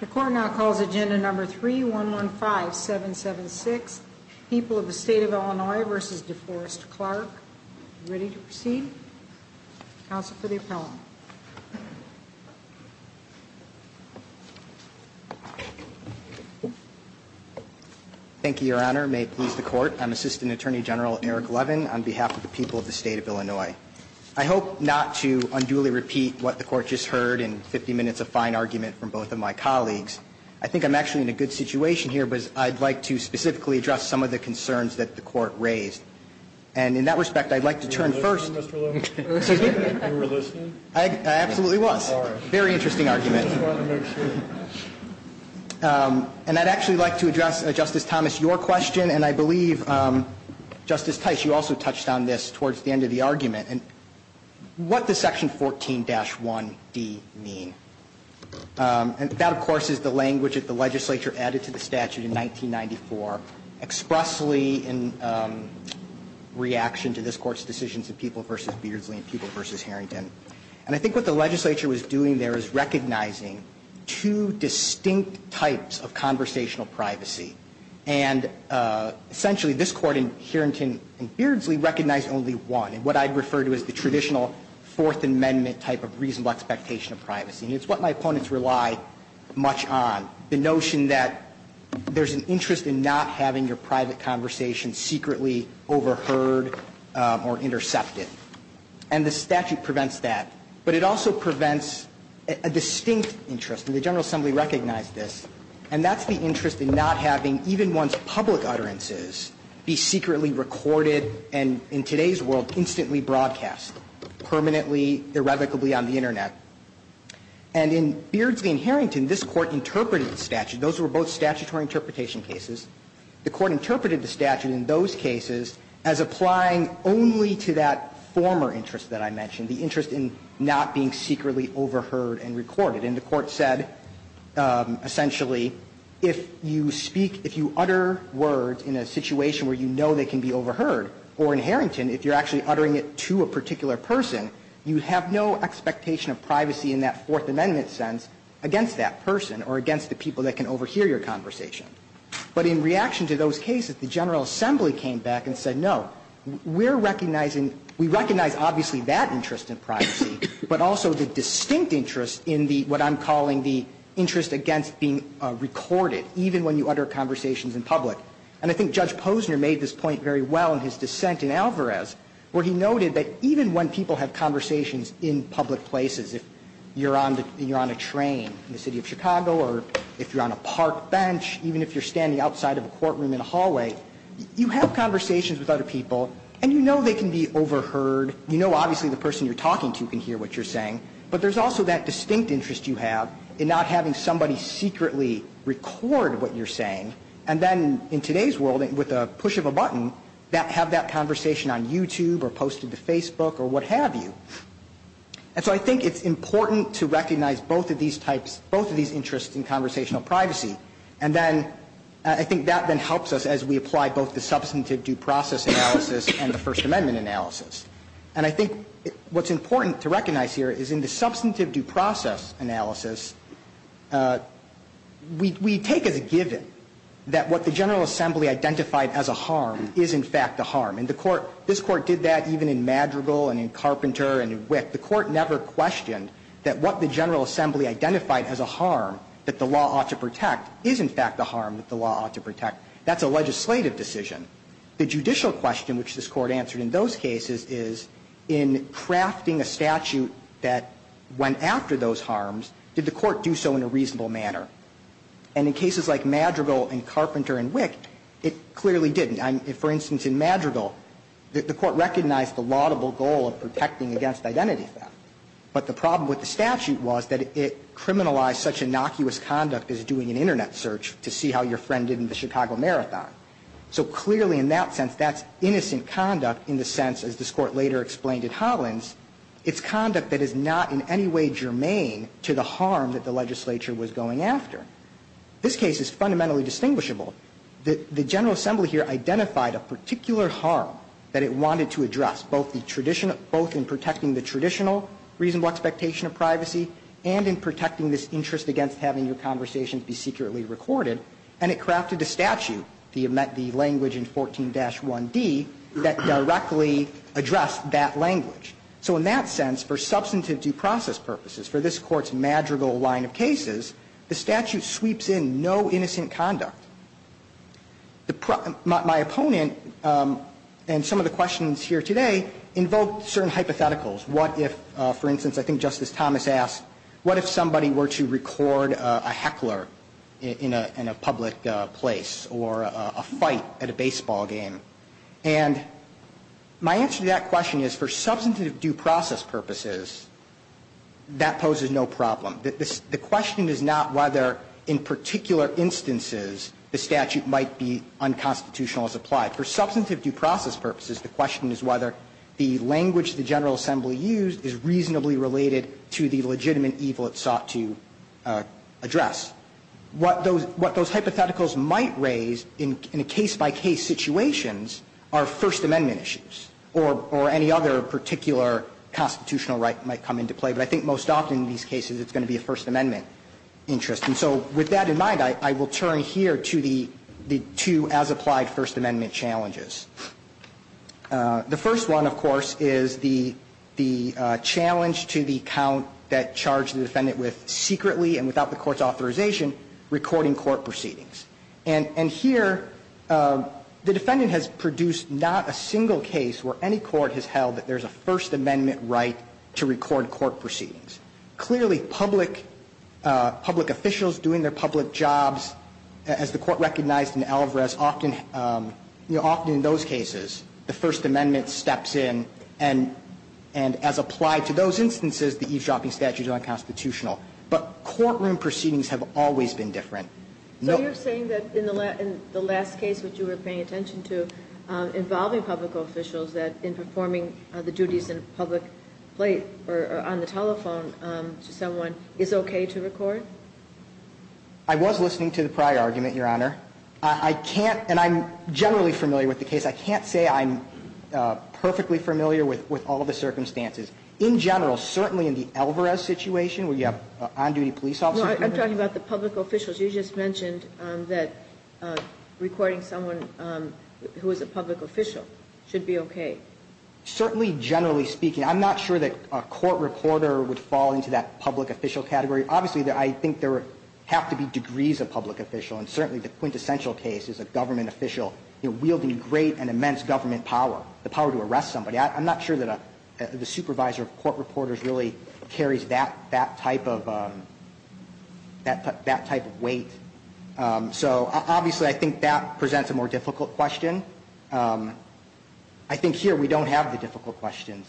The court now calls agenda number 3-115-776. People of the State of Illinois v. DeForest Clark. Ready to proceed? Counsel for the appellant. Thank you, Your Honor. May it please the court, I'm Assistant Attorney General Eric Levin on behalf of the people of the State of Illinois. I hope not to unduly repeat what the court just heard in 50 minutes of fine argument from both of my colleagues. I think I'm actually in a good situation here, but I'd like to specifically address some of the concerns that the court raised. And in that respect, I'd like to turn first. Were you listening, Mr. Levin? You were listening? I absolutely was. All right. Very interesting argument. I just wanted to make sure. And I'd actually like to address, Justice Thomas, your question. And I believe, Justice Tice, you also touched on this towards the end of the argument. What does Section 14-1d mean? And that, of course, is the language that the legislature added to the statute in 1994 expressly in reaction to this Court's decisions of People v. Beardsley and People v. Harrington. And I think what the legislature was doing there is recognizing two distinct types of conversational privacy. And essentially, this Court in Harrington and Beardsley recognized only one, and what I'd refer to as the traditional Fourth Amendment type of reasonable expectation of privacy. And it's what my opponents rely much on, the notion that there's an interest in not having your private conversation secretly overheard or intercepted. And the statute prevents that. But it also prevents a distinct interest. And the General Assembly recognized this. And that's the interest in not having even one's public utterances be secretly recorded and, in today's world, instantly broadcast permanently, irrevocably on the Internet. And in Beardsley and Harrington, this Court interpreted the statute. Those were both statutory interpretation cases. The Court interpreted the statute in those cases as applying only to that former interest that I mentioned, the interest in not being secretly overheard and recorded. And the Court said, essentially, if you speak, if you utter words in a situation where you know they can be overheard, or in Harrington, if you're actually uttering it to a particular person, you have no expectation of privacy in that Fourth Amendment sense against that person or against the people that can overhear your conversation. But in reaction to those cases, the General Assembly came back and said, no, we're recognizing, we recognize obviously that interest in privacy, but also the distinct interest in the, what I'm calling the interest against being recorded, even when you utter conversations in public. And I think Judge Posner made this point very well in his dissent in Alvarez, where he noted that even when people have conversations in public places, if you're on a train in the City of Chicago or if you're on a park bench, even if you're standing outside of a courtroom in a hallway, you have conversations with other people and you know they can be overheard, you know obviously the person you're talking to can hear what you're saying, but there's also that distinct interest you have in not having somebody secretly record what you're saying, and then in today's world, with a push of a button, have that conversation on YouTube or posted to Facebook or what have you. And so I think it's important to recognize both of these types, both of these interests in conversational privacy, and then I think that then helps us as we apply both the substantive due process analysis and the First Amendment analysis. And I think what's important to recognize here is in the substantive due process analysis, we take as a given that what the General Assembly identified as a harm is in fact a harm. And the Court, this Court did that even in Madrigal and in Carpenter and in Witt. The Court never questioned that what the General Assembly identified as a harm that the law ought to protect is in fact a harm that the law ought to protect. That's a legislative decision. The judicial question, which this Court answered in those cases, is in crafting a statute that went after those harms, did the Court do so in a reasonable manner? And in cases like Madrigal and Carpenter and Witt, it clearly didn't. For instance, in Madrigal, the Court recognized the laudable goal of protecting against identity theft. But the problem with the statute was that it criminalized such innocuous conduct as doing an Internet search to see how your friend did in the Chicago Marathon. So clearly in that sense, that's innocent conduct in the sense, as this Court later explained at Hollins, it's conduct that is not in any way germane to the harm that the legislature was going after. This case is fundamentally distinguishable. The General Assembly here identified a particular harm that it wanted to address, both in protecting the traditional reasonable expectation of privacy and in protecting So in that sense, for substantive due process purposes, for this Court's Madrigal line of cases, the statute sweeps in no innocent conduct. My opponent and some of the questions here today invoke certain hypotheticals. What if, for instance, I think Justice Thomas asked, what if somebody were to record And my answer to that question is, for substantive due process purposes, that poses no problem. The question is not whether in particular instances the statute might be unconstitutional as applied. For substantive due process purposes, the question is whether the language the General Assembly used is reasonably related to the legitimate evil it sought to address. What those hypotheticals might raise in a case-by-case situations are First Amendment issues or any other particular constitutional right might come into play. But I think most often in these cases it's going to be a First Amendment interest. And so with that in mind, I will turn here to the two as-applied First Amendment challenges. The first one, of course, is the challenge to the count that charged the defendant with secretly and without the Court's authorization recording court proceedings. And here the defendant has produced not a single case where any court has held that there's a First Amendment right to record court proceedings. Clearly, public officials doing their public jobs, as the Court recognized in Alvarez, often in those cases the First Amendment steps in and as applied to those Court proceedings have always been different. No. So you're saying that in the last case that you were paying attention to involving public officials in performing the duties at a public plate or on the telephone to someone is okay to record? I was listening to the prior argument, Your Honor. I can't, and I'm generally familiar with the case. I can't say I'm perfectly familiar with all of the circumstances. In general, certainly in the Alvarez situation where you have on-duty police officers. No, I'm talking about the public officials. You just mentioned that recording someone who is a public official should be okay. Certainly, generally speaking. I'm not sure that a court reporter would fall into that public official category. Obviously, I think there have to be degrees of public official, and certainly the quintessential case is a government official wielding great and immense government power, the power to arrest somebody. I'm not sure that the supervisor of court reporters really carries that type of weight. So obviously, I think that presents a more difficult question. I think here we don't have the difficult questions.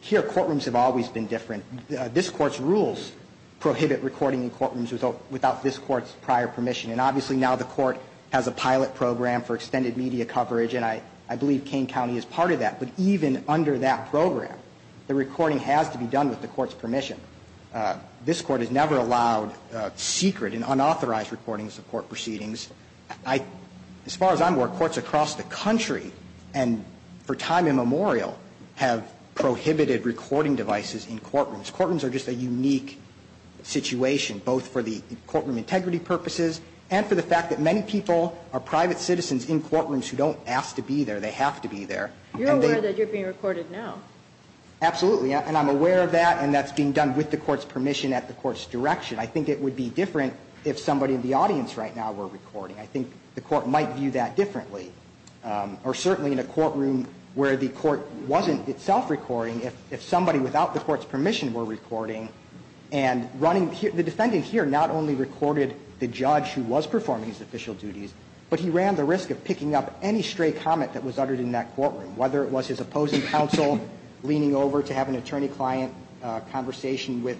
Here courtrooms have always been different. This Court's rules prohibit recording in courtrooms without this Court's prior permission, and obviously now the Court has a pilot program for extended media coverage, and I believe Kane County is part of that. But even under that program, the recording has to be done with the Court's permission. This Court has never allowed secret and unauthorized recordings of court proceedings. As far as I'm aware, courts across the country and for time immemorial have prohibited recording devices in courtrooms. Courtrooms are just a unique situation, both for the courtroom integrity purposes and for the fact that many people are private citizens in courtrooms who don't ask to be there. They have to be there. You're aware that you're being recorded now. Absolutely. And I'm aware of that, and that's being done with the Court's permission at the Court's direction. I think it would be different if somebody in the audience right now were recording. I think the Court might view that differently. Or certainly in a courtroom where the Court wasn't itself recording, if somebody without the Court's permission were recording and running the defendant here not only recorded the judge who was performing his official duties, but he ran the risk of picking up any stray comment that was uttered in that courtroom, whether it was his opposing counsel leaning over to have an attorney-client conversation with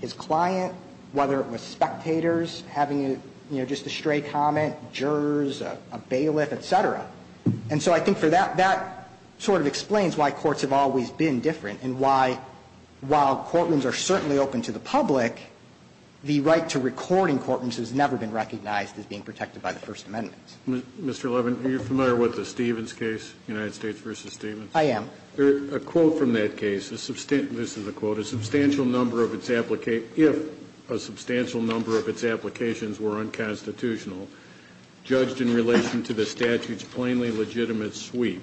his client, whether it was spectators having, you know, just a stray comment, jurors, a bailiff, et cetera. And so I think for that, that sort of explains why courts have always been different and why, while courtrooms are certainly open to the public, the right to recording courtrooms has never been recognized as being protected by the First Amendment. Mr. Levin, are you familiar with the Stevens case, United States v. Stevens? I am. A quote from that case, this is a quote, If a substantial number of its applications were unconstitutional, judged in relation to the statute's plainly legitimate sweep,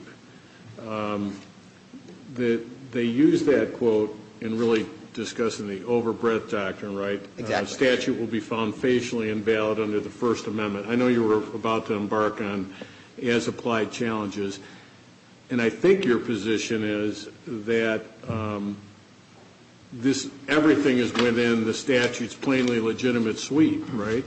they use that quote in really discussing the overbreadth doctrine, right? Exactly. A statute will be found facially invalid under the First Amendment. I know you were about to embark on as-applied challenges, and I think your position is that this, everything is within the statute's plainly legitimate sweep, right?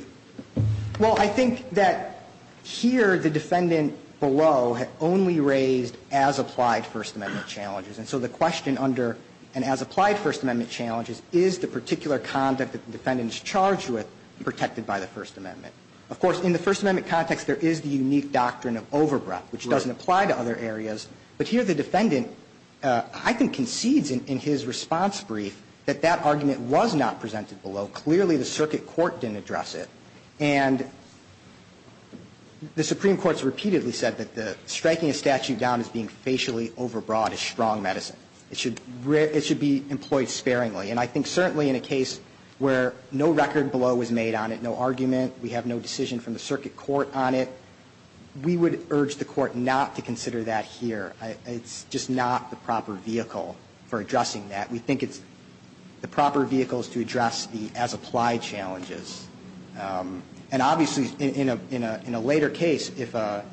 Well, I think that here the defendant below had only raised as-applied First Amendment challenges, and so the question under an as-applied First Amendment challenge is, is the particular conduct that the defendant is charged with protected by the First Amendment? Of course, in the First Amendment context, there is the unique doctrine of overbreadth, which doesn't apply to other areas, but here the defendant, I think, concedes in his response brief that that argument was not presented below. Clearly, the circuit court didn't address it. And the Supreme Court has repeatedly said that striking a statute down as being facially overbroad is strong medicine. It should be employed sparingly. And I think certainly in a case where no record below was made on it, no argument, we have no decision from the circuit court on it, we would urge the Court not to consider that here. It's just not the proper vehicle for addressing that. We think it's the proper vehicles to address the as-applied challenges. And obviously, in a later case, if a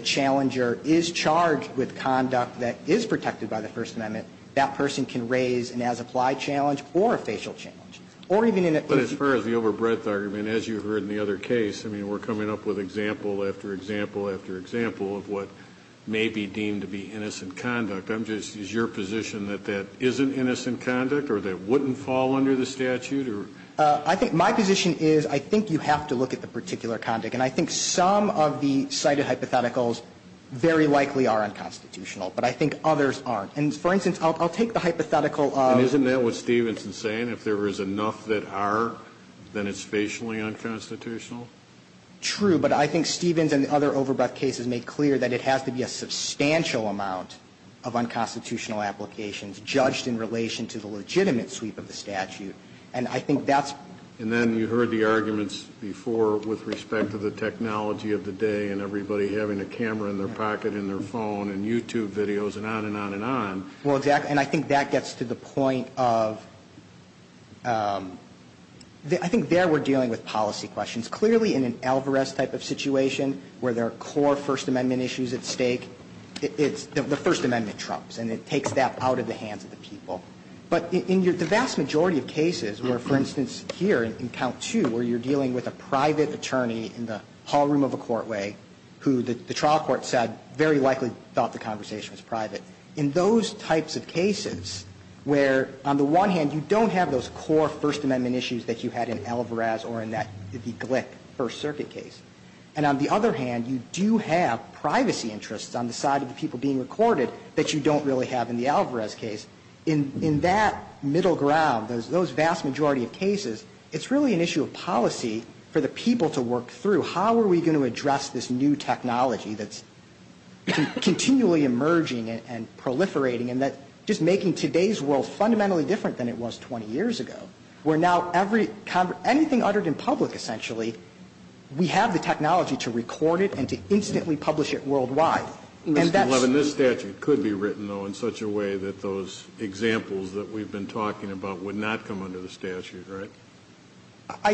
challenger is charged with conduct that is protected by the First Amendment, that person can raise an as-applied challenge or a facial challenge. Or even in a case of the overbreadth argument, as you heard in the other case, I mean, we're coming up with example after example after example of what may be deemed to be innocent conduct. I'm just as your position that that isn't innocent conduct or that wouldn't fall under the statute or? I think my position is I think you have to look at the particular conduct. And I think some of the cited hypotheticals very likely are unconstitutional, but I think others aren't. And for instance, I'll take the hypothetical of. And isn't that what Stevens is saying? If there is enough that are, then it's facially unconstitutional? True. But I think Stevens and the other overbreadth cases make clear that it has to be a substantial amount of unconstitutional applications judged in relation to the legitimate sweep of the statute. And I think that's. And then you heard the arguments before with respect to the technology of the day and everybody having a camera in their pocket and their phone and YouTube videos and on and on and on. Well, exactly. And I think that gets to the point of I think there we're dealing with policy questions. Clearly in an Alvarez type of situation where there are core First Amendment issues at stake, it's the First Amendment trumps and it takes that out of the hands of the people. But in the vast majority of cases where, for instance, here in count two where you're talking to a private attorney in the hall room of a court way who the trial court said very likely thought the conversation was private, in those types of cases where, on the one hand, you don't have those core First Amendment issues that you had in Alvarez or in that if you click First Circuit case, and on the other hand, you do have privacy interests on the side of the people being recorded that you don't really have in the Alvarez case, in that middle ground, those vast majority of cases, it's really an issue of policy for the people to work through, how are we going to address this new technology that's continually emerging and proliferating and that's just making today's world fundamentally different than it was 20 years ago, where now anything uttered in public, essentially, we have the technology to record it and to instantly publish it worldwide. And that's... Mr. Levin, this statute could be written, though, in such a way that those examples that we've been talking about would not come under the statute, right?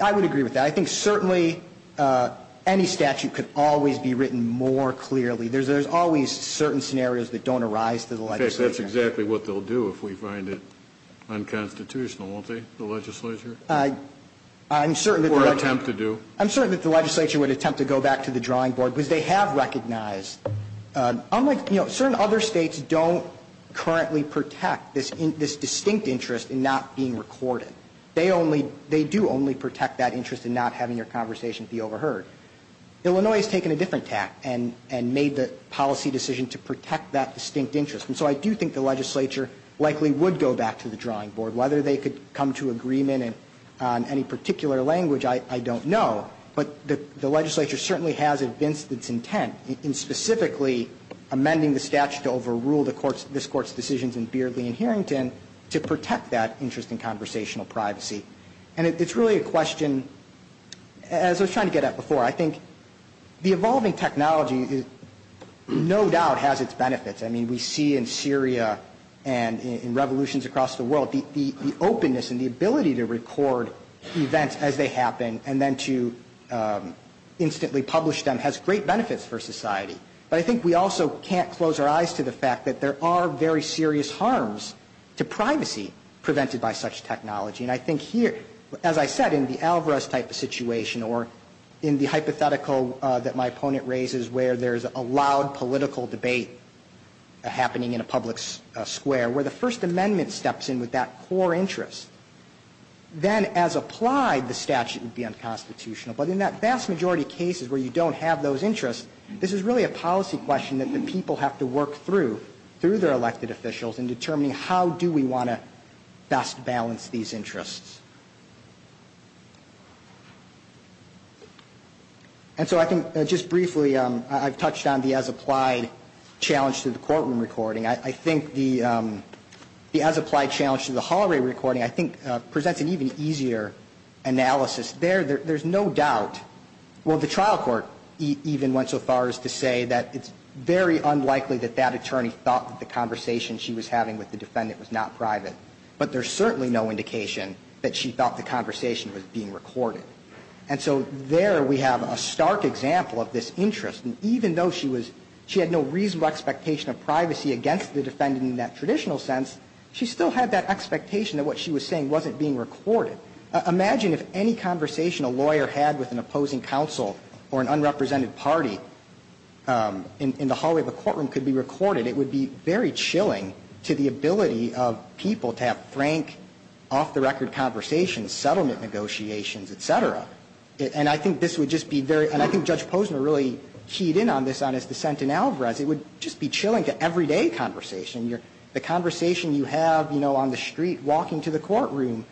I would agree with that. I think certainly any statute could always be written more clearly. There's always certain scenarios that don't arise to the legislature. That's exactly what they'll do if we find it unconstitutional, won't they, the legislature? I'm certain that... Or attempt to do. I'm certain that the legislature would attempt to go back to the drawing board, because they have recognized, unlike, you know, certain other states don't currently protect this distinct interest in not being recorded. They only... They do only protect that interest in not having your conversation be overheard. Illinois has taken a different tack and made the policy decision to protect that distinct interest. And so I do think the legislature likely would go back to the drawing board. Whether they could come to agreement on any particular language, I don't know. But the legislature certainly has evinced its intent in specifically amending the decisions in Beardley and Harrington to protect that interest in conversational privacy. And it's really a question... As I was trying to get at before, I think the evolving technology no doubt has its benefits. I mean, we see in Syria and in revolutions across the world the openness and the ability to record events as they happen and then to instantly publish them has great benefits for society. But I think we also can't close our eyes to the fact that there are very serious harms to privacy prevented by such technology. And I think here, as I said, in the Alvarez type of situation or in the hypothetical that my opponent raises where there's a loud political debate happening in a public square, where the First Amendment steps in with that core interest, then as applied the statute would be unconstitutional. But in that vast majority of cases where you don't have those interests, this is really a policy question that the people have to work through, through their elected officials in determining how do we want to best balance these interests. And so I think just briefly I've touched on the as applied challenge to the courtroom recording. I think the as applied challenge to the hallway recording I think presents an even easier analysis. There's no doubt, well, the trial court even went so far as to say that it's very unlikely that that attorney thought that the conversation she was having with the defendant was not private. But there's certainly no indication that she thought the conversation was being recorded. And so there we have a stark example of this interest. And even though she had no reasonable expectation of privacy against the defendant in that traditional sense, she still had that expectation that what she was saying wasn't being recorded. Imagine if any conversation a lawyer had with an opposing counsel or an unrepresented party in the hallway of a courtroom could be recorded. It would be very chilling to the ability of people to have frank, off-the-record conversations, settlement negotiations, et cetera. And I think this would just be very – and I think Judge Posner really keyed in on this on his dissent in Alvarez. It would just be chilling to everyday conversation. The conversation you have, you know, on the street, walking to the courtroom,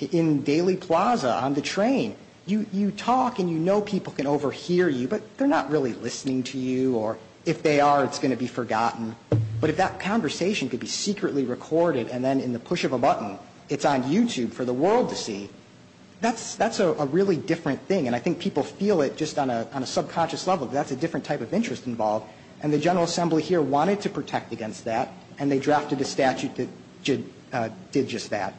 in Daly Plaza, on the train, you talk and you know people can overhear you, but they're not really listening to you. Or if they are, it's going to be forgotten. But if that conversation could be secretly recorded and then in the push of a button it's on YouTube for the world to see, that's a really different thing. And I think people feel it just on a subconscious level. That's a different type of interest involved. And the General Assembly here wanted to protect against that. And they drafted a statute that did just that.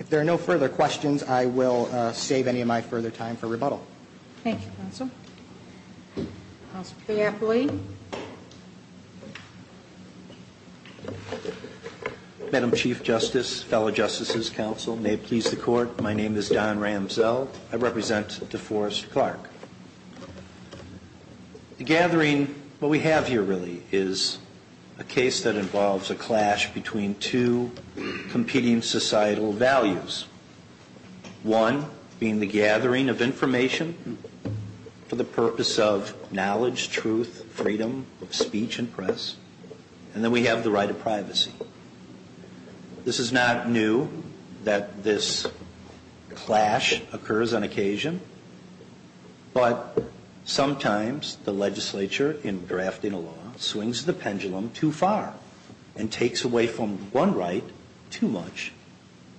If there are no further questions, I will save any of my further time for rebuttal. Thank you, counsel. Counsel Cafferly. Madam Chief Justice, fellow Justices, counsel, may it please the Court, my name is Don Ramsell. I represent DeForest Clark. The gathering, what we have here really, is a case that involves a clash between two competing societal values. One being the gathering of information for the purpose of knowledge, truth, freedom of speech and press. And then we have the right of privacy. This is not new that this clash occurs on occasion, but sometimes the legislature in drafting a law swings the pendulum too far and takes away from one right too much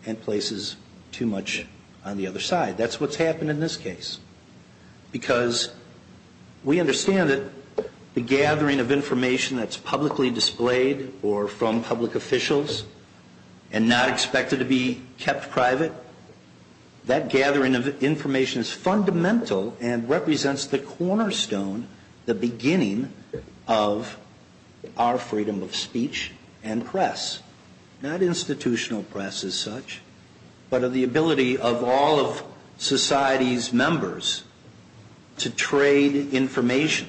and places too much on the other side. That's what's happened in this case. Because we understand that the gathering of information that's publicly displayed or from public officials and not expected to be kept private, that gathering of information is fundamental and represents the cornerstone, the beginning of our freedom of speech and press. Not institutional press as such, but of the ability of all of society's members to trade information.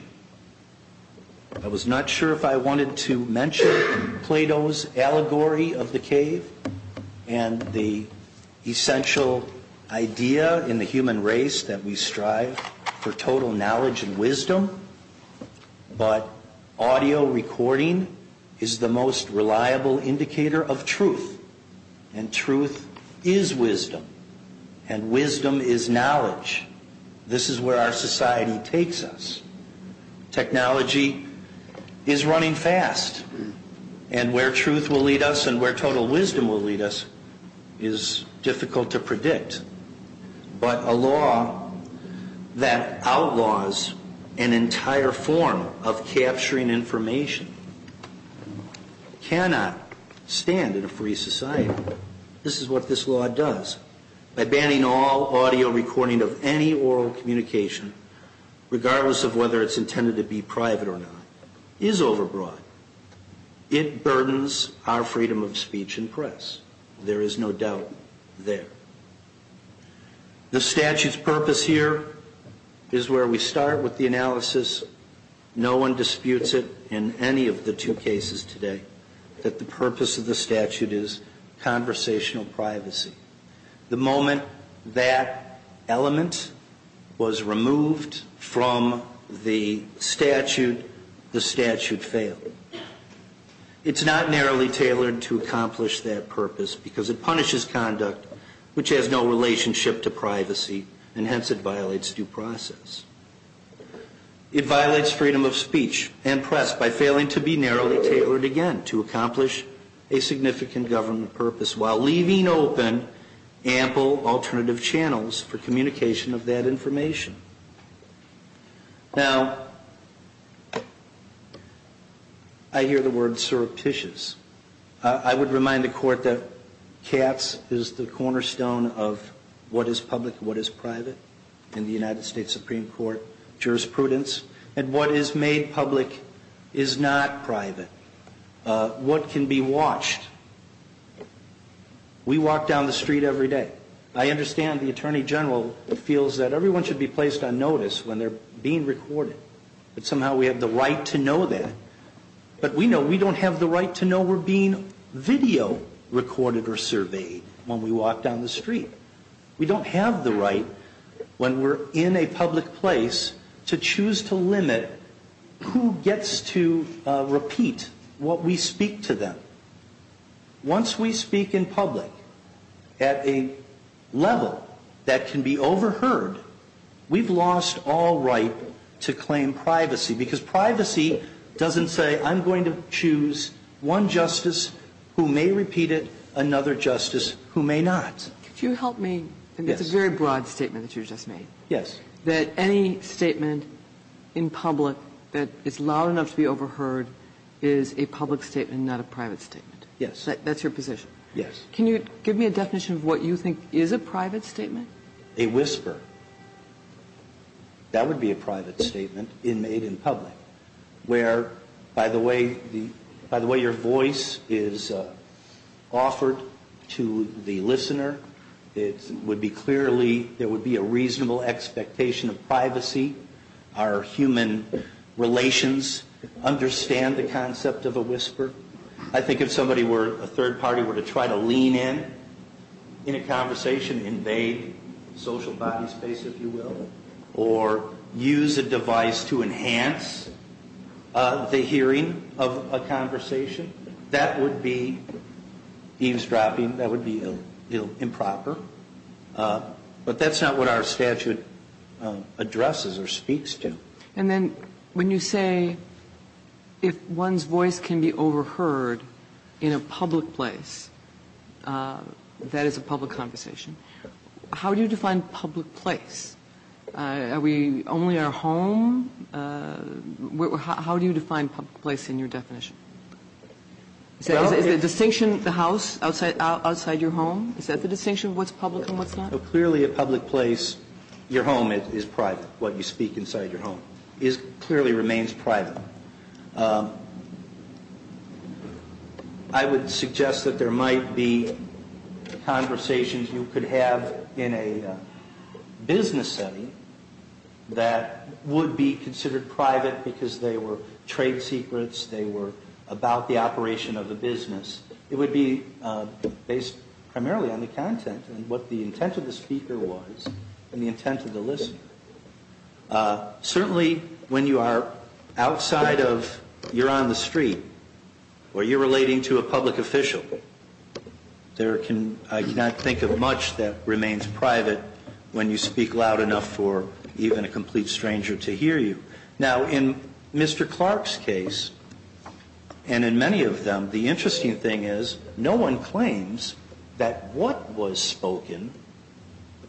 I was not sure if I wanted to mention Plato's allegory of the cave and the essential idea in the human race that we strive for total knowledge and wisdom, but audio recording is the most reliable indicator of truth. And truth is wisdom. And wisdom is knowledge. This is where our society takes us. Technology is running fast. And where truth will lead us and where total wisdom will lead us is difficult to predict. But a law that outlaws an entire form of capturing information cannot stand in a free society. This is what this law does. By banning all audio recording of any oral communication, regardless of whether it's intended to be private or not, is overbroad. It burdens our freedom of speech and press. There is no doubt there. The statute's purpose here is where we start with the analysis. No one disputes it in any of the two cases today that the purpose of the statute is conversational privacy. The moment that element was removed from the statute, the statute failed. It's not narrowly tailored to accomplish that purpose because it punishes conduct which has no relationship to privacy, and hence it violates due process. It violates freedom of speech and press by failing to be narrowly tailored again to accomplish a significant government purpose while leaving open ample alternative channels for communication of that information. Now, I hear the word surreptitious. I would remind the Court that Katz is the cornerstone of what is public and what is private in the United States Supreme Court jurisprudence. And what is made public is not private. What can be watched? We walk down the street every day. I understand the Attorney General feels that everyone should be placed on notice when they're being recorded. But somehow we have the right to know that. But we know we don't have the right to know we're being video recorded or surveyed when we walk down the street. We don't have the right when we're in a public place to choose to limit who gets to repeat what we speak to them. Once we speak in public at a level that can be overheard, we've lost all right to claim privacy. Because privacy doesn't say I'm going to choose one justice who may repeat it, another justice who may not. But can I ask a question to Boston? Yes. Could you help me? It's a very broad statement that you just made. Yes. That any statement in public that is loud enough to be overheard is a public statement and not a private statement. Yes. That's your position? Yes. Can you give me a definition of what you think is a private statement? A whisper. That would be a private statement made in public where, by the way, your voice is offered to the listener. It would be clearly, there would be a reasonable expectation of privacy. I think if somebody were, a third party were to try to lean in, in a conversation, invade social body space, if you will, or use a device to enhance the hearing of a conversation, that would be eavesdropping. That would be improper. But that's not what our statute addresses or speaks to. And then when you say if one's voice can be overheard in a public place, that is a public conversation, how do you define public place? Are we only our home? How do you define public place in your definition? Is the distinction the house outside your home? Is that the distinction of what's public and what's not? Clearly a public place, your home is private, what you speak inside your home. It clearly remains private. I would suggest that there might be conversations you could have in a business setting that would be considered private because they were trade secrets, they were about the operation of the business. It would be based primarily on the content and what the intent of the speaker was and the intent of the listener. Certainly when you are outside of, you're on the street, or you're relating to a public official, there can, I cannot think of much that remains private when you speak loud enough for even a complete stranger to hear you. Now, in Mr. Clark's case, and in many of them, the interesting thing is no one claims that what was spoken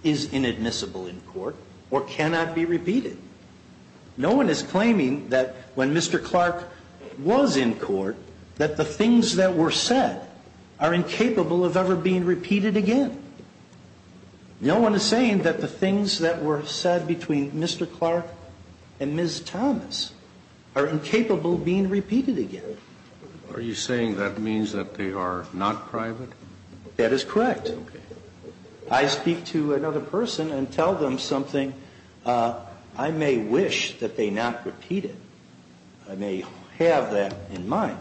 is inadmissible in court or cannot be repeated. No one is claiming that when Mr. Clark was in court that the things that were said are incapable of ever being repeated again. No one is saying that the things that were said between Mr. Clark and Ms. Thomas are incapable of being repeated again. Are you saying that means that they are not private? That is correct. Okay. I speak to another person and tell them something. I may wish that they not repeat it. I may have that in mind.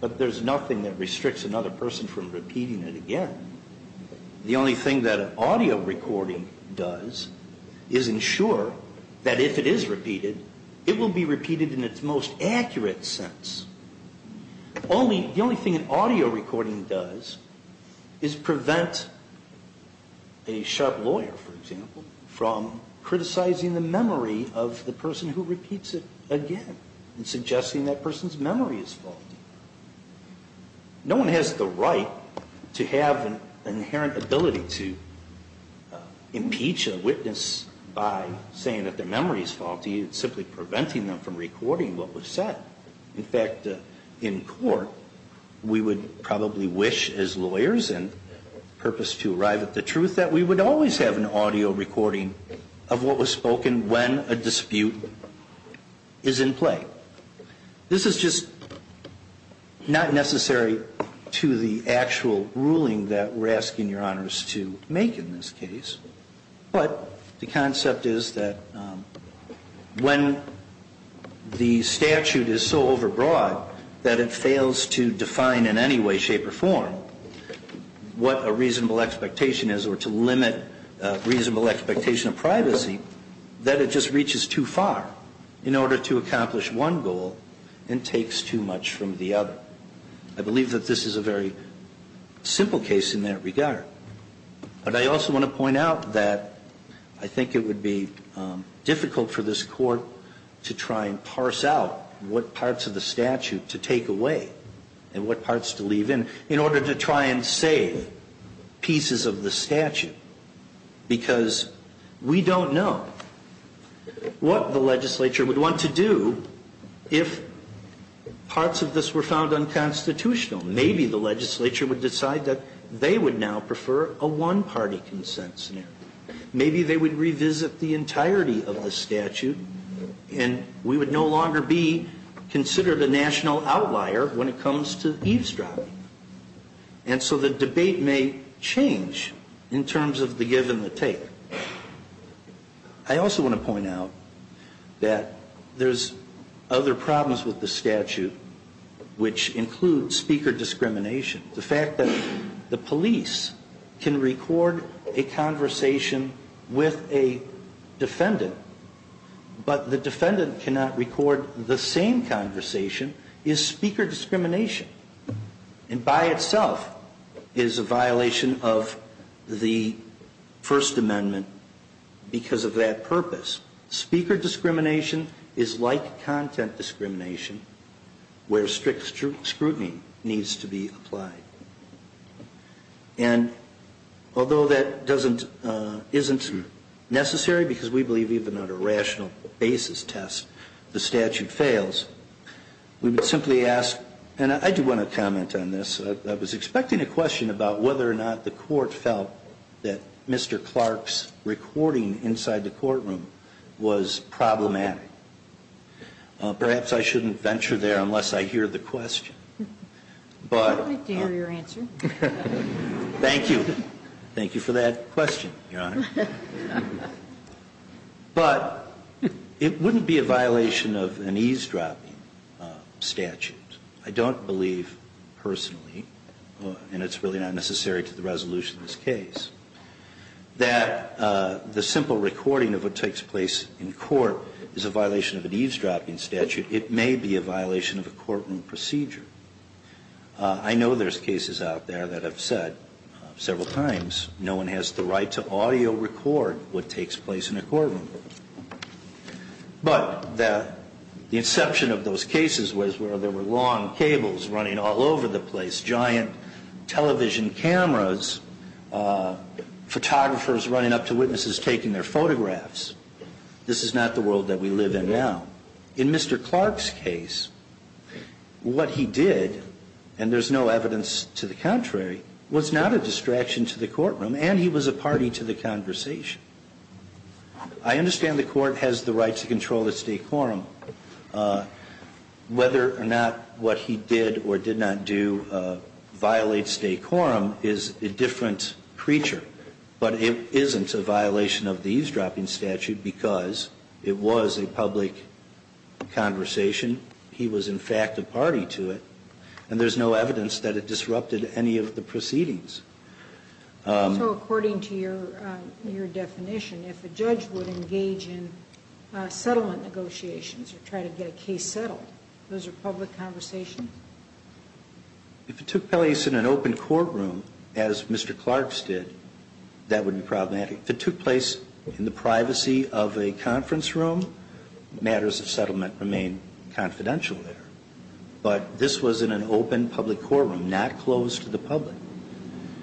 But there's nothing that restricts another person from repeating it again. The only thing that an audio recording does is ensure that if it is repeated, it will be repeated in its most accurate sense. The only thing an audio recording does is prevent a sharp lawyer, for example, from criticizing the memory of the person who repeats it again and suggesting that person's memory is faulty. No one has the right to have an inherent ability to impeach a witness by saying that their memory is faulty. It's simply preventing them from recording what was said. In fact, in court, we would probably wish as lawyers and purpose to arrive at the truth that we would always have an audio recording of what was spoken when a dispute is in play. This is just not necessary to the actual ruling that we're asking Your Honors to make in this case. But the concept is that when the statute is so overbroad that it fails to define in any way, shape, or form what a reasonable expectation is or to limit reasonable expectation of privacy, that it just reaches too far in order to accomplish one goal and takes too much from the other. I believe that this is a very simple case in that regard. But I also want to point out that I think it would be difficult for this Court to try and parse out what parts of the statute to take away and what parts to leave in order to try and save pieces of the statute. Because we don't know what the legislature would want to do if parts of this were found unconstitutional. Maybe the legislature would decide that they would now prefer a one-party consent scenario. Maybe they would revisit the entirety of the statute, and we would no longer be And so the debate may change in terms of the give and the take. I also want to point out that there's other problems with the statute which include speaker discrimination. The fact that the police can record a conversation with a defendant, but the defendant cannot record the same conversation is speaker discrimination. And by itself is a violation of the First Amendment because of that purpose. Speaker discrimination is like content discrimination where strict scrutiny needs to be applied. And although that isn't necessary because we believe even on a rational basis test the statute fails, we would simply ask, and I do want to comment on this, I was expecting a question about whether or not the Court felt that Mr. Clark's recording inside the courtroom was problematic. Perhaps I shouldn't venture there unless I hear the question. But I'd like to hear your answer. Thank you. Thank you for that question, Your Honor. But it wouldn't be a violation of an eavesdropping statute. I don't believe personally, and it's really not necessary to the resolution of this case, that the simple recording of what takes place in court is a violation of an eavesdropping statute. It may be a violation of a courtroom procedure. I know there's cases out there that have said several times no one has the right to audio record what takes place in a courtroom. But the inception of those cases was where there were long cables running all over the place, giant television cameras, photographers running up to witnesses taking their photographs. This is not the world that we live in now. In Mr. Clark's case, what he did, and there's no evidence to the contrary, was not a distraction to the courtroom, and he was a party to the conversation. I understand the Court has the right to control its decorum. Whether or not what he did or did not do violates decorum is a different creature. But it isn't a violation of the eavesdropping statute because it was a public conversation. He was, in fact, a party to it. And there's no evidence that it disrupted any of the proceedings. So according to your definition, if a judge would engage in settlement negotiations or try to get a case settled, those are public conversations? If it took place in an open courtroom, as Mr. Clark's did, that would be problematic. If it took place in the privacy of a conference room, matters of settlement remain confidential there. But this was in an open public courtroom, not closed to the public.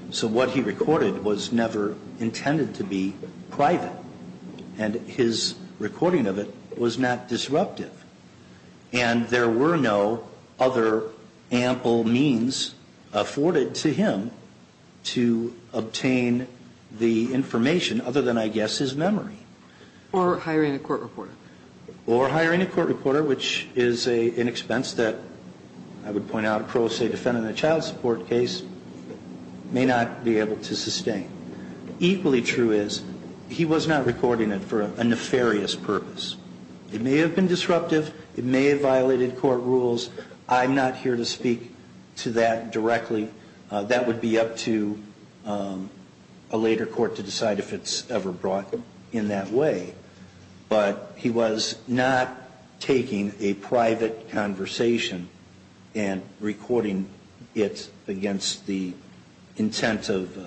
So what he recorded was never intended to be private. And his recording of it was not disruptive. And there were no other ample means afforded to him to obtain the information other than, I guess, his memory. Or hiring a court reporter. Or hiring a court reporter, which is an expense that I would point out a pro se defendant in a child support case may not be able to sustain. Equally true is he was not recording it for a nefarious purpose. It may have been disruptive. It may have violated court rules. I'm not here to speak to that directly. That would be up to a later court to decide if it's ever brought in that way. But he was not taking a private conversation and recording it against the intent of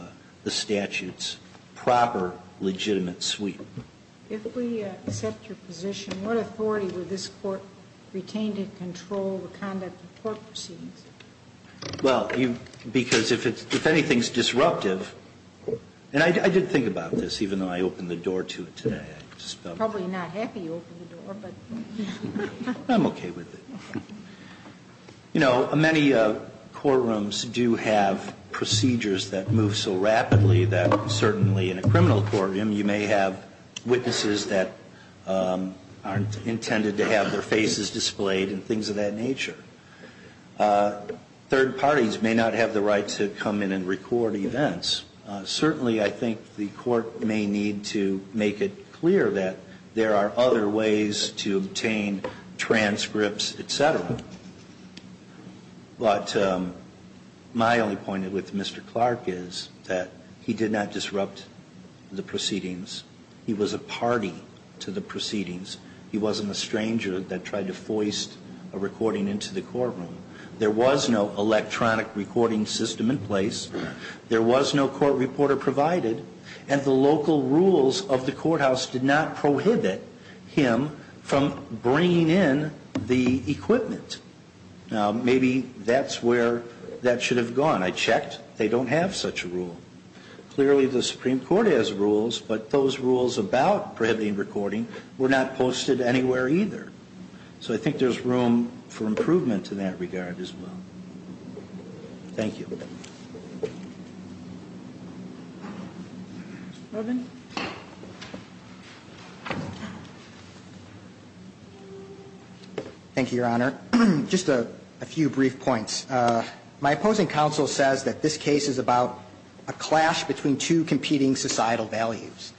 the statute's proper legitimate suite. If we accept your position, what authority would this Court retain to control the conduct of court proceedings? Well, because if anything's disruptive, and I did think about this, even though I opened the door to it today, I just felt... Probably not happy you opened the door, but... I'm okay with it. You know, many courtrooms do have procedures that move so rapidly that certainly in a criminal courtroom you may have witnesses that aren't intended to have their faces displayed and things of that nature. Third parties may not have the right to come in and record events. Certainly I think the Court may need to make it clear that there are other ways to obtain transcripts, et cetera. But my only point with Mr. Clark is that he did not disrupt the proceedings. He was a party to the proceedings. He wasn't a stranger that tried to foist a recording into the courtroom. There was no electronic recording system in place. There was no court reporter provided, and the local rules of the courthouse did not prohibit him from bringing in the equipment. Now, maybe that's where that should have gone. I checked. They don't have such a rule. Clearly the Supreme Court has rules, but those rules about prohibiting recording were not posted anywhere either. So I think there's room for improvement in that regard as well. Thank you. Thank you, Your Honor. Just a few brief points. My opposing counsel says that this case is about a clash between two competing societal values,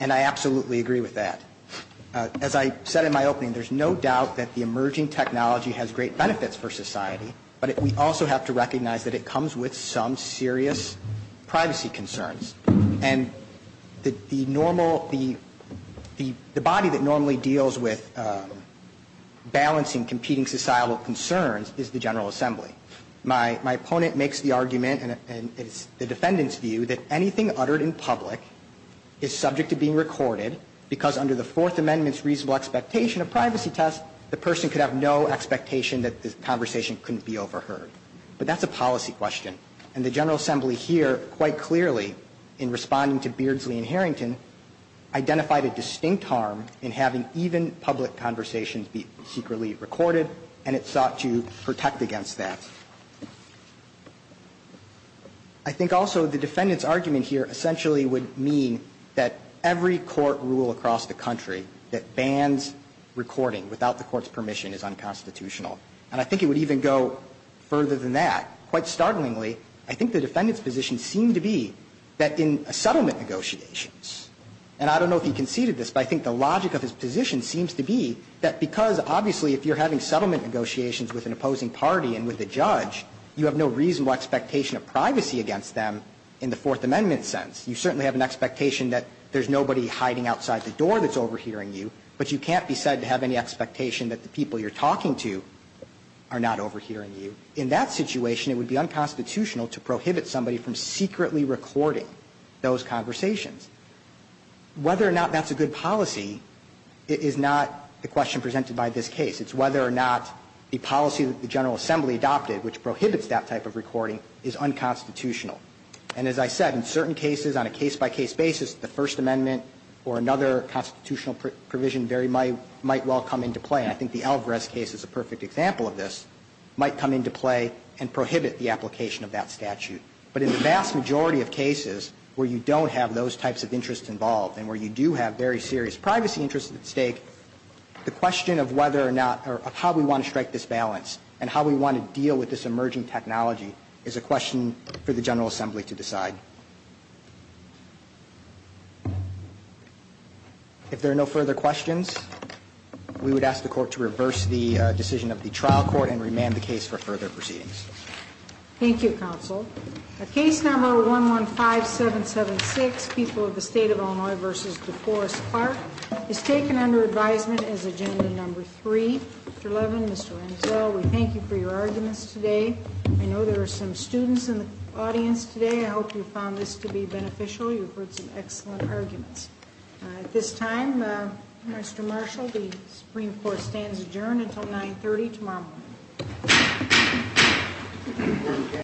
and I absolutely agree with that. As I said in my opening, there's no doubt that the emerging technology has great benefits for society, but we also have to recognize that it comes with some serious privacy concerns. And the normal, the body that normally deals with balancing competing societal concerns is the General Assembly. My opponent makes the argument, and it's the defendant's view, that anything uttered in public is subject to being recorded because under the Fourth Amendment's reasonable expectation of privacy test, the person could have no expectation that the conversation couldn't be overheard. But that's a policy question. And the General Assembly here, quite clearly, in responding to Beardsley and Harrington, identified a distinct harm in having even public conversations be secretly recorded, and it sought to protect against that. I think also the defendant's argument here essentially would mean that every court rule across the country that bans recording without the court's permission is unconstitutional. And I think it would even go further than that. Quite startlingly, I think the defendant's position seemed to be that in settlement negotiations, and I don't know if you conceded this, but I think the logic of his position seems to be that because, obviously, if you're having settlement negotiations with an opposing party and with a judge, you have no reasonable expectation of privacy against them in the Fourth Amendment sense. You certainly have an expectation that there's nobody hiding outside the door that's overhearing you, but you can't be said to have any expectation that the people you're talking to are not overhearing you. In that situation, it would be unconstitutional to prohibit somebody from secretly recording those conversations. Whether or not that's a good policy is not the question presented by this case. It's whether or not the policy that the General Assembly adopted, which prohibits that type of recording, is unconstitutional. And as I said, in certain cases, on a case-by-case basis, the First Amendment or another constitutional provision very might well come into play. And I think the Alvarez case is a perfect example of this. It might come into play and prohibit the application of that statute. But in the vast majority of cases where you don't have those types of interests involved and where you do have very serious privacy interests at stake, the question of whether or not or how we want to strike this balance and how we want to deal with this emerging technology is a question for the General Assembly to decide. If there are no further questions, we would ask the Court to reverse the decision of the trial court and remand the case for further proceedings. Thank you, Counsel. Case number 115776, People of the State of Illinois v. DeForest Park, is taken under advisement as agenda number 3. Mr. Levin, Mr. Renzel, we thank you for your arguments today. I know there are some students in the audience today. I hope you found this to be beneficial. You've heard some excellent arguments. At this time, Mr. Marshall, the Supreme Court stands adjourned until 9.30 tomorrow morning.